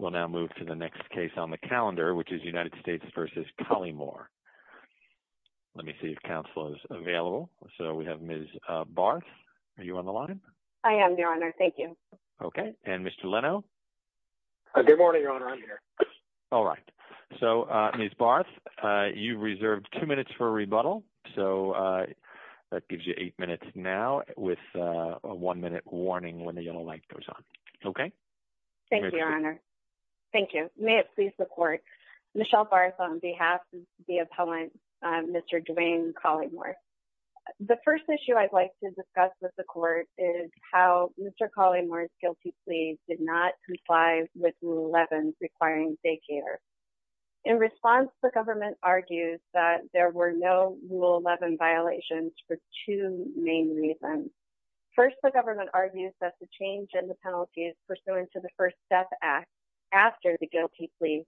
We'll now move to the next case on the calendar, which is United States v. Collymore. Let me see if counsel is available. So we have Ms. Barth. Are you on the line? I am, Your Honor. Thank you. Okay. And Mr. Leno? Good morning, Your Honor. I'm here. All right. So, Ms. Barth, you reserved two minutes for a rebuttal. So that gives you eight minutes now with a one-minute warning when the yellow light goes on. Okay? Thank you, Your Honor. Thank you. May it please the Court, Michelle Barth on behalf of the appellant, Mr. Dwayne Collymore. The first issue I'd like to discuss with the Court is how Mr. Collymore's guilty plea did not comply with Rule 11, requiring daycare. In response, the government argues that there were no Rule 11 violations for two main reasons. First, the government argues that the change in the penalties pursuant to the First Step Act after the guilty plea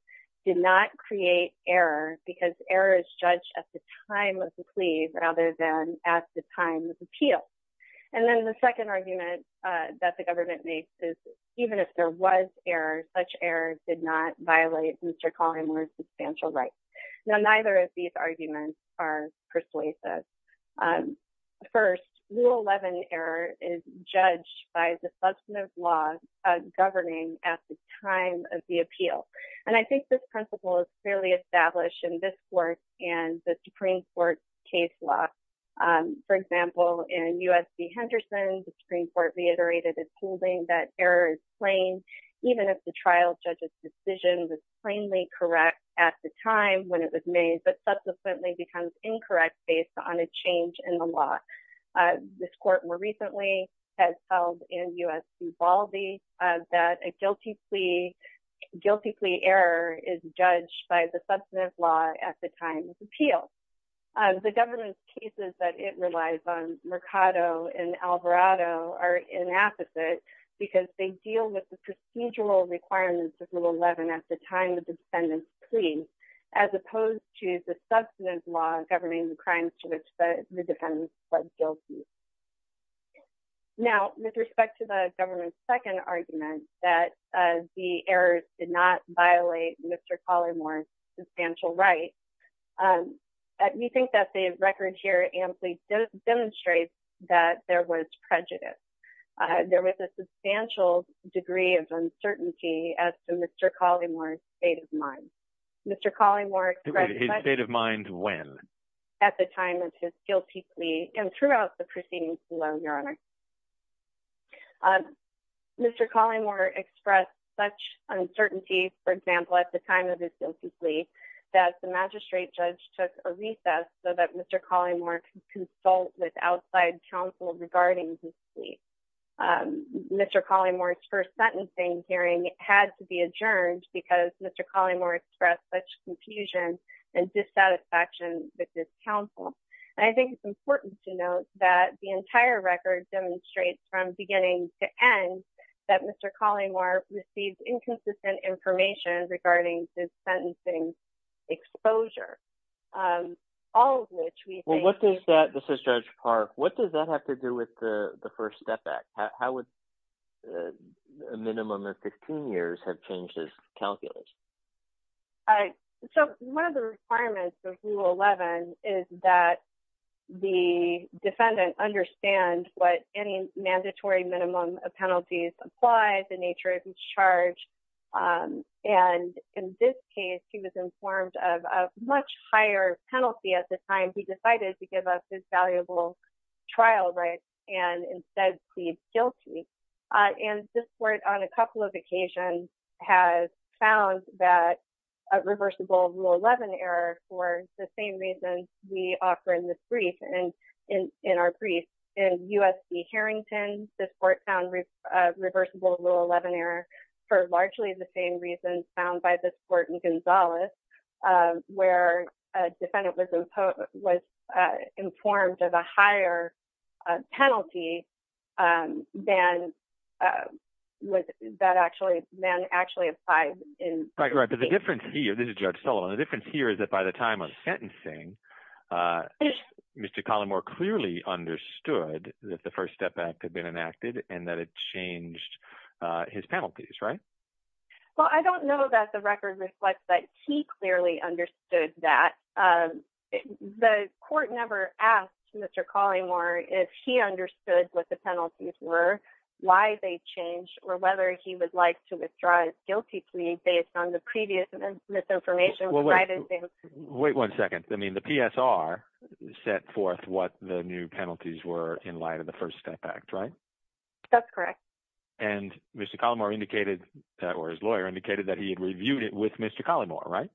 did not create error because error is judged at the time of the plea rather than at the time of the appeal. And then the second argument that the government makes is even if there was error, such error did not violate Mr. Collymore's substantial rights. Now, neither of these arguments are persuasive. First, Rule 11 error is judged by the substantive laws governing at the time of the appeal. And I think this principle is clearly established in this Court and the Supreme Court case law. For example, in U.S. v. Henderson, the Supreme Court reiterated its holding that error is plain even if the trial judge's decision was plainly correct at the time when it was made, but subsequently becomes incorrect based on a change in the law. This Court more recently has held in U.S. v. Baldy that a guilty plea error is judged by the substantive law at the time of the appeal. The government's cases that it relies on, Mercado and Alvarado, are inapposite because they deal with the procedural requirements of Rule 11 at the time of the defendant's plea, as opposed to the substantive law governing the crimes to which the defendant pled guilty. Now, with respect to the government's second argument that the errors did not violate Mr. Collymore's substantial rights, we think that the record here amply demonstrates that there was prejudice. There was a substantial degree of uncertainty as to Mr. Collymore's state of mind. Mr. Collymore expressed such uncertainty, for example, at the time of his guilty plea, that the magistrate judge took a recess so that Mr. Collymore could consult with outside counsel regarding his plea. Mr. Collymore's first Mr. Collymore expressed such confusion and dissatisfaction with his counsel. I think it's important to note that the entire record demonstrates from beginning to end that Mr. Collymore received inconsistent information regarding his sentencing exposure, all of which we think... Well, what does that, this is Judge Park, what does that have to do with the First Act? How would a minimum of 15 years have changed his calculation? So, one of the requirements of Rule 11 is that the defendant understand what any mandatory minimum of penalties apply, the nature of each charge. And in this case, he was informed of a higher penalty at the time, he decided to give up his valuable trial rights and instead plead guilty. And this Court, on a couple of occasions, has found that a reversible Rule 11 error for the same reasons we offer in this brief, in our brief. In USC Harrington, this Court found reversible Rule 11 error for largely the same reasons found by this Court in Gonzales, where a defendant was informed of a higher penalty than actually applied in... Right, right. But the difference here, this is Judge Sullivan, the difference here is that by the time of sentencing, Mr. Collymore clearly understood that the First Step Act had been enacted and that it changed his penalties, right? Well, I don't know that the record reflects that he clearly understood that. The Court never asked Mr. Collymore if he understood what the penalties were, why they changed, or whether he would like to withdraw his guilty plea based on the previous misinformation. Wait one second. I mean, the PSR set forth what the new penalties were in light of the First Step Act, right? That's correct. And Mr. Collymore indicated, that was his lawyer, indicated that he had reviewed it with Mr. Collymore, right?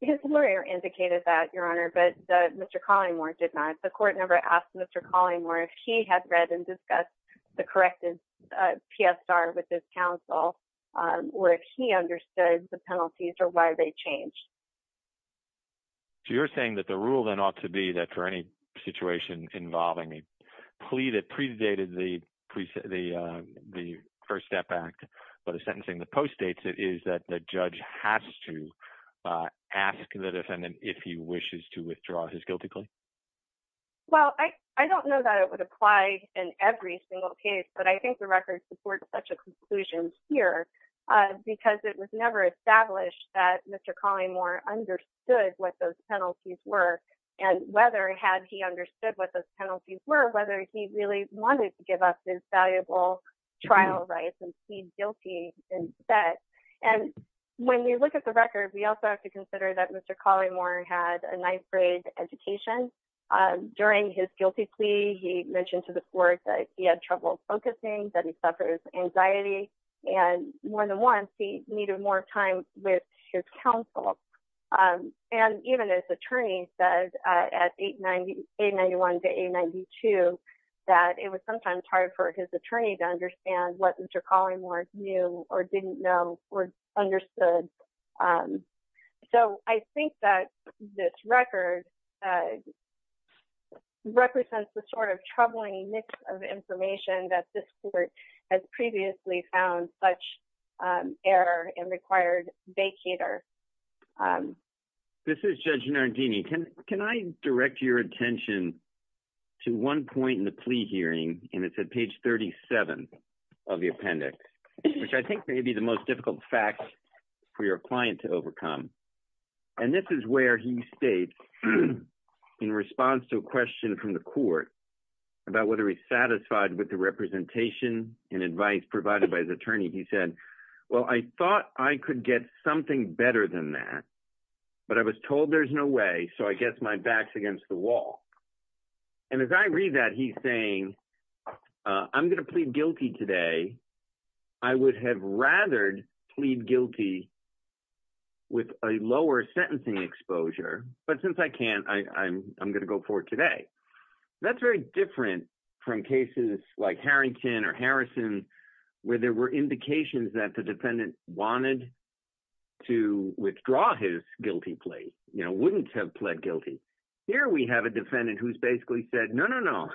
His lawyer indicated that, Your Honor, but Mr. Collymore did not. The Court never asked Mr. Collymore if he had read and discussed the corrected PSR with his counsel, or if he understood the penalties or why they changed. So you're saying that the rule then ought to be that for any situation involving a plea that but a sentencing that postdates it is that the judge has to ask the defendant if he wishes to withdraw his guilty plea? Well, I don't know that it would apply in every single case, but I think the record supports such a conclusion here because it was never established that Mr. Collymore understood what those penalties were, and whether had he understood what those penalties were, whether he really wanted to give up his valuable trial rights and plead guilty instead. And when we look at the record, we also have to consider that Mr. Collymore had a ninth grade education. During his guilty plea, he mentioned to the Court that he had trouble focusing, that he suffers anxiety, and more than once, he needed more time with his counsel. And even his attorney said at 891 to 892 that it was sometimes hard for his attorney to understand what Mr. Collymore knew or didn't know or understood. So I think that this record represents the sort of troubling mix of information that this Court has previously found such error and required vacater. This is Judge Nardini. Can I direct your attention to one point in the plea hearing, and it's at page 37 of the appendix, which I think may be the most difficult fact for your client to overcome. And this is where he states, in response to a question from the Court about whether he's satisfied with the representation and advice provided by his attorney, he said, well, I thought I could get something better than that, but I was told there's no way, so I guess my back's against the wall. And as I read that, he's saying, I'm going to plead guilty today. I would have rather plead guilty with a lower sentencing exposure, but since I can't, I'm going to go forward today. That's very different from cases like Harrington or Harrison, where there were indications that the defendant wanted to withdraw his guilty plea, you know, wouldn't have pled guilty. Here we have a defendant who's basically said, no, no, no,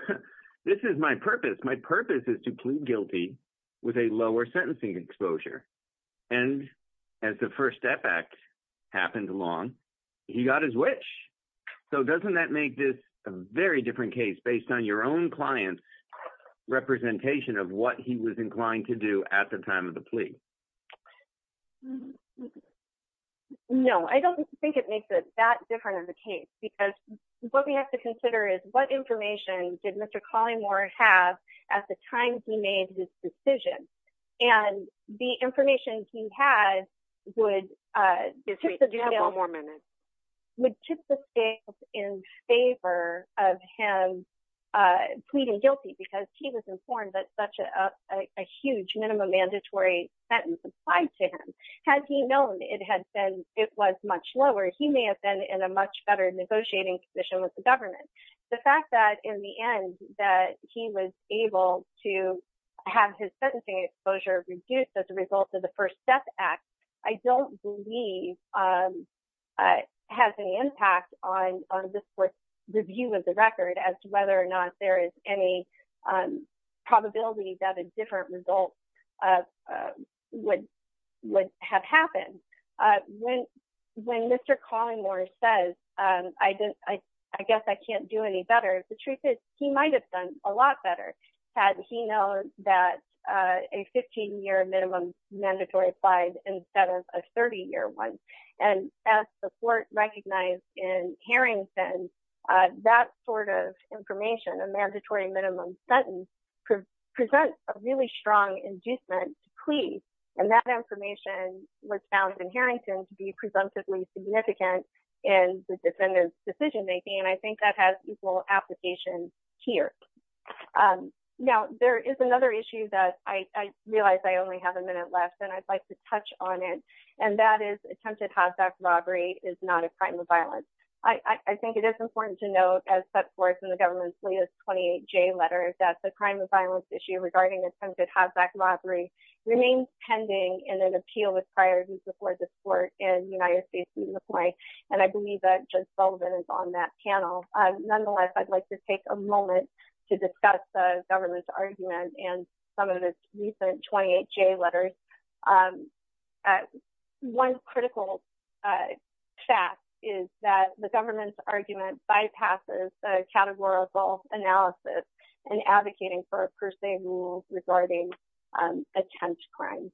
this is my purpose. My purpose is to plead guilty with a lower sentencing exposure. And as the first effect happened along, he got his wish. So doesn't that make this a very different case based on your own client's representation of what he was inclined to do at the time of the plea? No, I don't think it makes it that different of a case, because what we have to consider is what information did Mr. Collingmore have at the time he made this decision? And the information he had would tip the scales in favor of him pleading guilty, because he was informed that such a huge minimum mandatory sentence applied to him. Had he known it had been, it was much lower, he may have been in a much better negotiating position with the his sentencing exposure reduced as a result of the First Step Act, I don't believe has any impact on this review of the record as to whether or not there is any probability that a different result would have happened. When Mr. Collingmore says, I guess I can't do any better. The truth is, he might have done a lot better. Had he known that a 15-year minimum mandatory applied instead of a 30-year one. And as the court recognized in Harrington, that sort of information, a mandatory minimum sentence, presents a really strong inducement plea. And that information was found in Harrington to be presumptively significant in the defendant's decision-making. And I think that has equal application here. And now there is another issue that I realized I only have a minute left, and I'd like to touch on it. And that is attempted haz-back robbery is not a crime of violence. I think it is important to note as set forth in the government's latest 28J letter that the crime of violence issue regarding attempted haz-back robbery remains pending in an appeal with priorities before the court in United States Supreme Court. And I believe that Judge Sullivan is on that panel. Nonetheless, I'd like to take a moment to discuss the government's argument and some of the recent 28J letters. One critical fact is that the government's argument bypasses the categorical analysis in advocating for a per se rule regarding attempt crimes.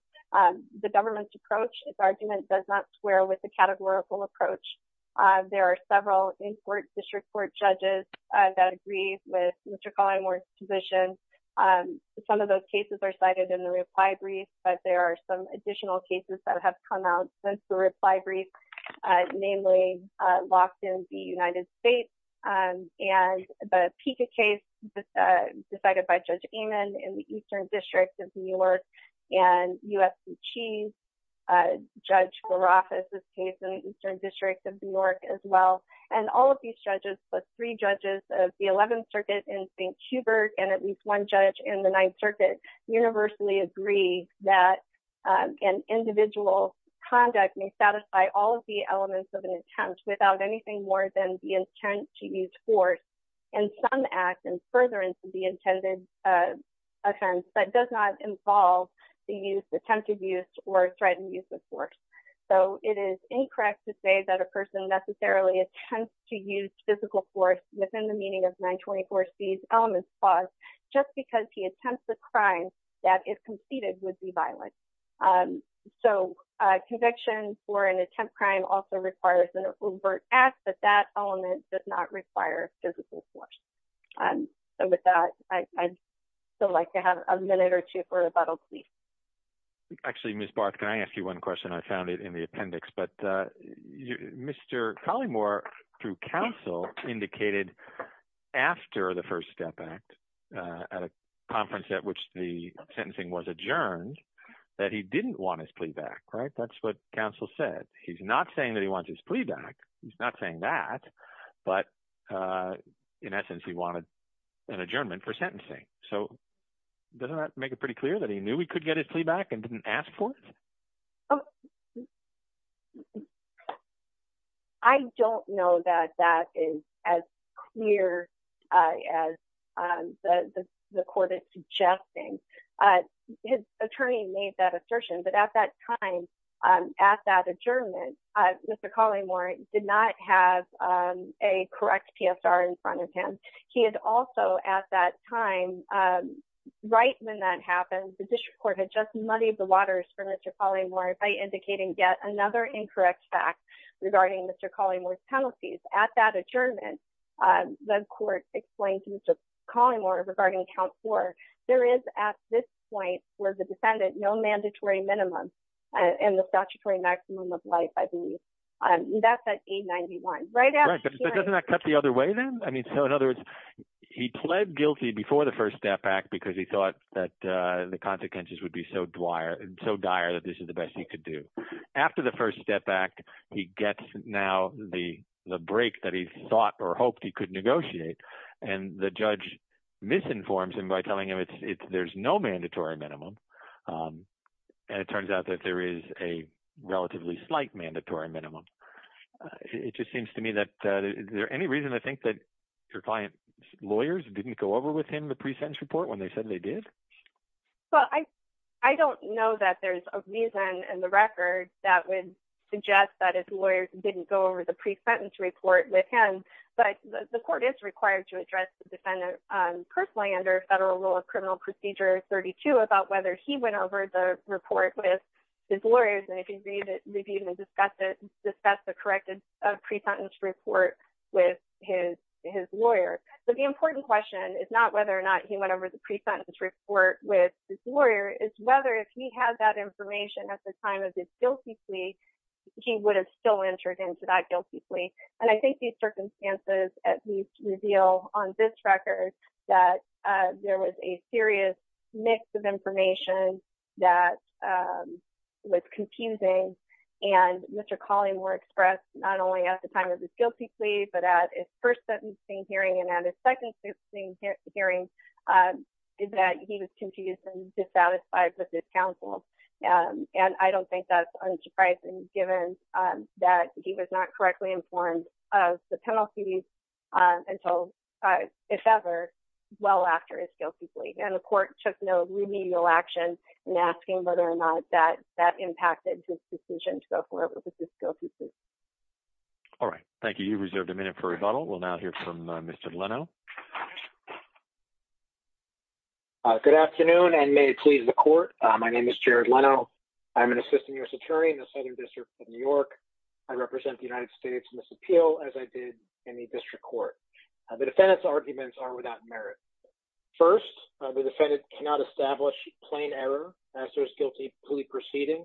The government's approach, its argument does not square with the categorical approach. There are several district court judges that agree with Mr. Collier-Morse's position. Some of those cases are cited in the reply brief, but there are some additional cases that have come out since the reply brief, namely locked in the United States. And the PICA case decided by Judge Amon in the Eastern District of New York, and U.S. Chief Judge Garoff in the Eastern District of New York as well. And all of these judges, plus three judges of the 11th Circuit in St. Hubert, and at least one judge in the Ninth Circuit, universally agree that an individual's conduct may satisfy all of the elements of an attempt without anything more than the intent to use force in some act and further into the intended offense, but does not involve the use, attempted use, or threatened use of force. So it is incorrect to say that a person necessarily attempts to use physical force within the meaning of 924C's element clause, just because he attempts a crime that, if completed, would be violent. So conviction for an attempt crime also requires an overt act, but that element does not require physical force. So with that, I'd still like to have a minute or two for rebuttal, please. Actually, Ms. Barth, can I ask you one question? I found it in the appendix, but Mr. Collymore, through counsel, indicated after the First Step Act, at a conference at which the sentencing was adjourned, that he didn't want his plea back, right? That's what counsel said. He's not saying that he wants his plea back. He's not saying that. But in essence, he wanted an his plea back and didn't ask for it? I don't know that that is as clear as the court is suggesting. His attorney made that assertion, but at that time, at that adjournment, Mr. Collymore did not have a correct PSR in front of him. He had also, at that time, right when that happened, the district court had just muddied the waters for Mr. Collymore by indicating yet another incorrect fact regarding Mr. Collymore's penalties. At that adjournment, the court explained to Mr. Collymore regarding Count 4, there is, at this point, for the defendant, no mandatory minimum and the statutory maximum of life, I believe. That's at 891, right? Right. But doesn't that cut the other way then? I mean, so in other words, he pled guilty before the First Step Act because he thought that the consequences would be so dire that this is the best he could do. After the First Step Act, he gets now the break that he thought or hoped he could negotiate. And the judge misinforms him by telling him there's no mandatory minimum. And it turns out that there is a relatively slight mandatory minimum. It just seems to me that, is there any reason, I think, that your client's lawyers didn't go over with him the pre-sentence report when they said they did? Well, I don't know that there's a reason in the record that would suggest that his lawyers didn't go over the pre-sentence report with him. But the court is required to address the defendant personally under Federal Rule of Procedure. He went over the report with his lawyers and they can review and discuss the corrected pre-sentence report with his lawyer. So the important question is not whether or not he went over the pre-sentence report with his lawyer, it's whether if he had that information at the time of this guilty plea, he would have still entered into that guilty plea. And I think these circumstances at least reveal on this record that there was a serious mix of information that was confusing. And Mr. Colleymore expressed not only at the time of this guilty plea, but at his first sentencing hearing and at his second sentencing hearing, that he was confused and dissatisfied with his counsel. And I don't think that's unsurprising given that he was not correctly informed of the penalties until, if ever, well after his guilty plea. And the court took no remedial action in asking whether or not that impacted his decision to go forward with this guilty plea. All right. Thank you. You reserved a minute for rebuttal. We'll now hear from Mr. Leno. Good afternoon and may it please the court. My name is Jared Leno. I'm an assistant U.S. attorney in the Southern District of New York. I represent the United States in this appeal as I The defendant's arguments are without merit. First, the defendant cannot establish plain error as to his guilty plea proceeding.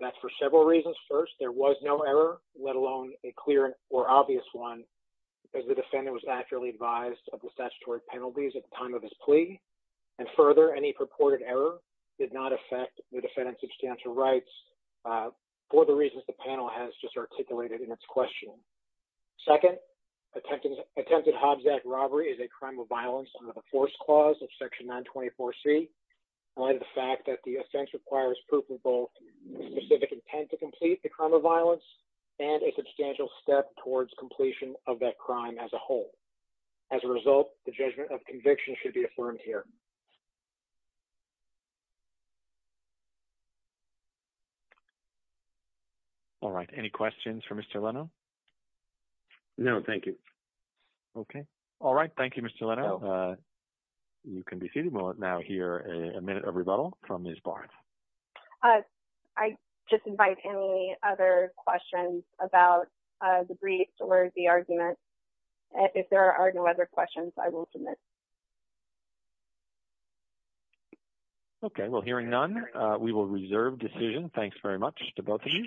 That's for several reasons. First, there was no error, let alone a clear or obvious one, because the defendant was actually advised of the statutory penalties at the time of his plea. And further, any purported error did not affect the defendant's substantial rights for the reasons the panel has just articulated in its question. Second, attempted Hobbs Act robbery is a crime of violence under the Force Clause of Section 924C, in light of the fact that the offense requires proof of both a specific intent to complete the crime of violence and a substantial step towards completion of that crime as a whole. As a result, the judgment of conviction should be affirmed here. All right. Any questions for Mr. Leno? No, thank you. Okay. All right. Thank you, Mr. Leno. You can be seated. We'll now hear a minute of rebuttal from Ms. Barnes. I just invite any other questions about the briefs or the argument. If there are no other questions, I will submit. Okay. Well, hearing none, we will reserve decision. Thanks very much to both of you.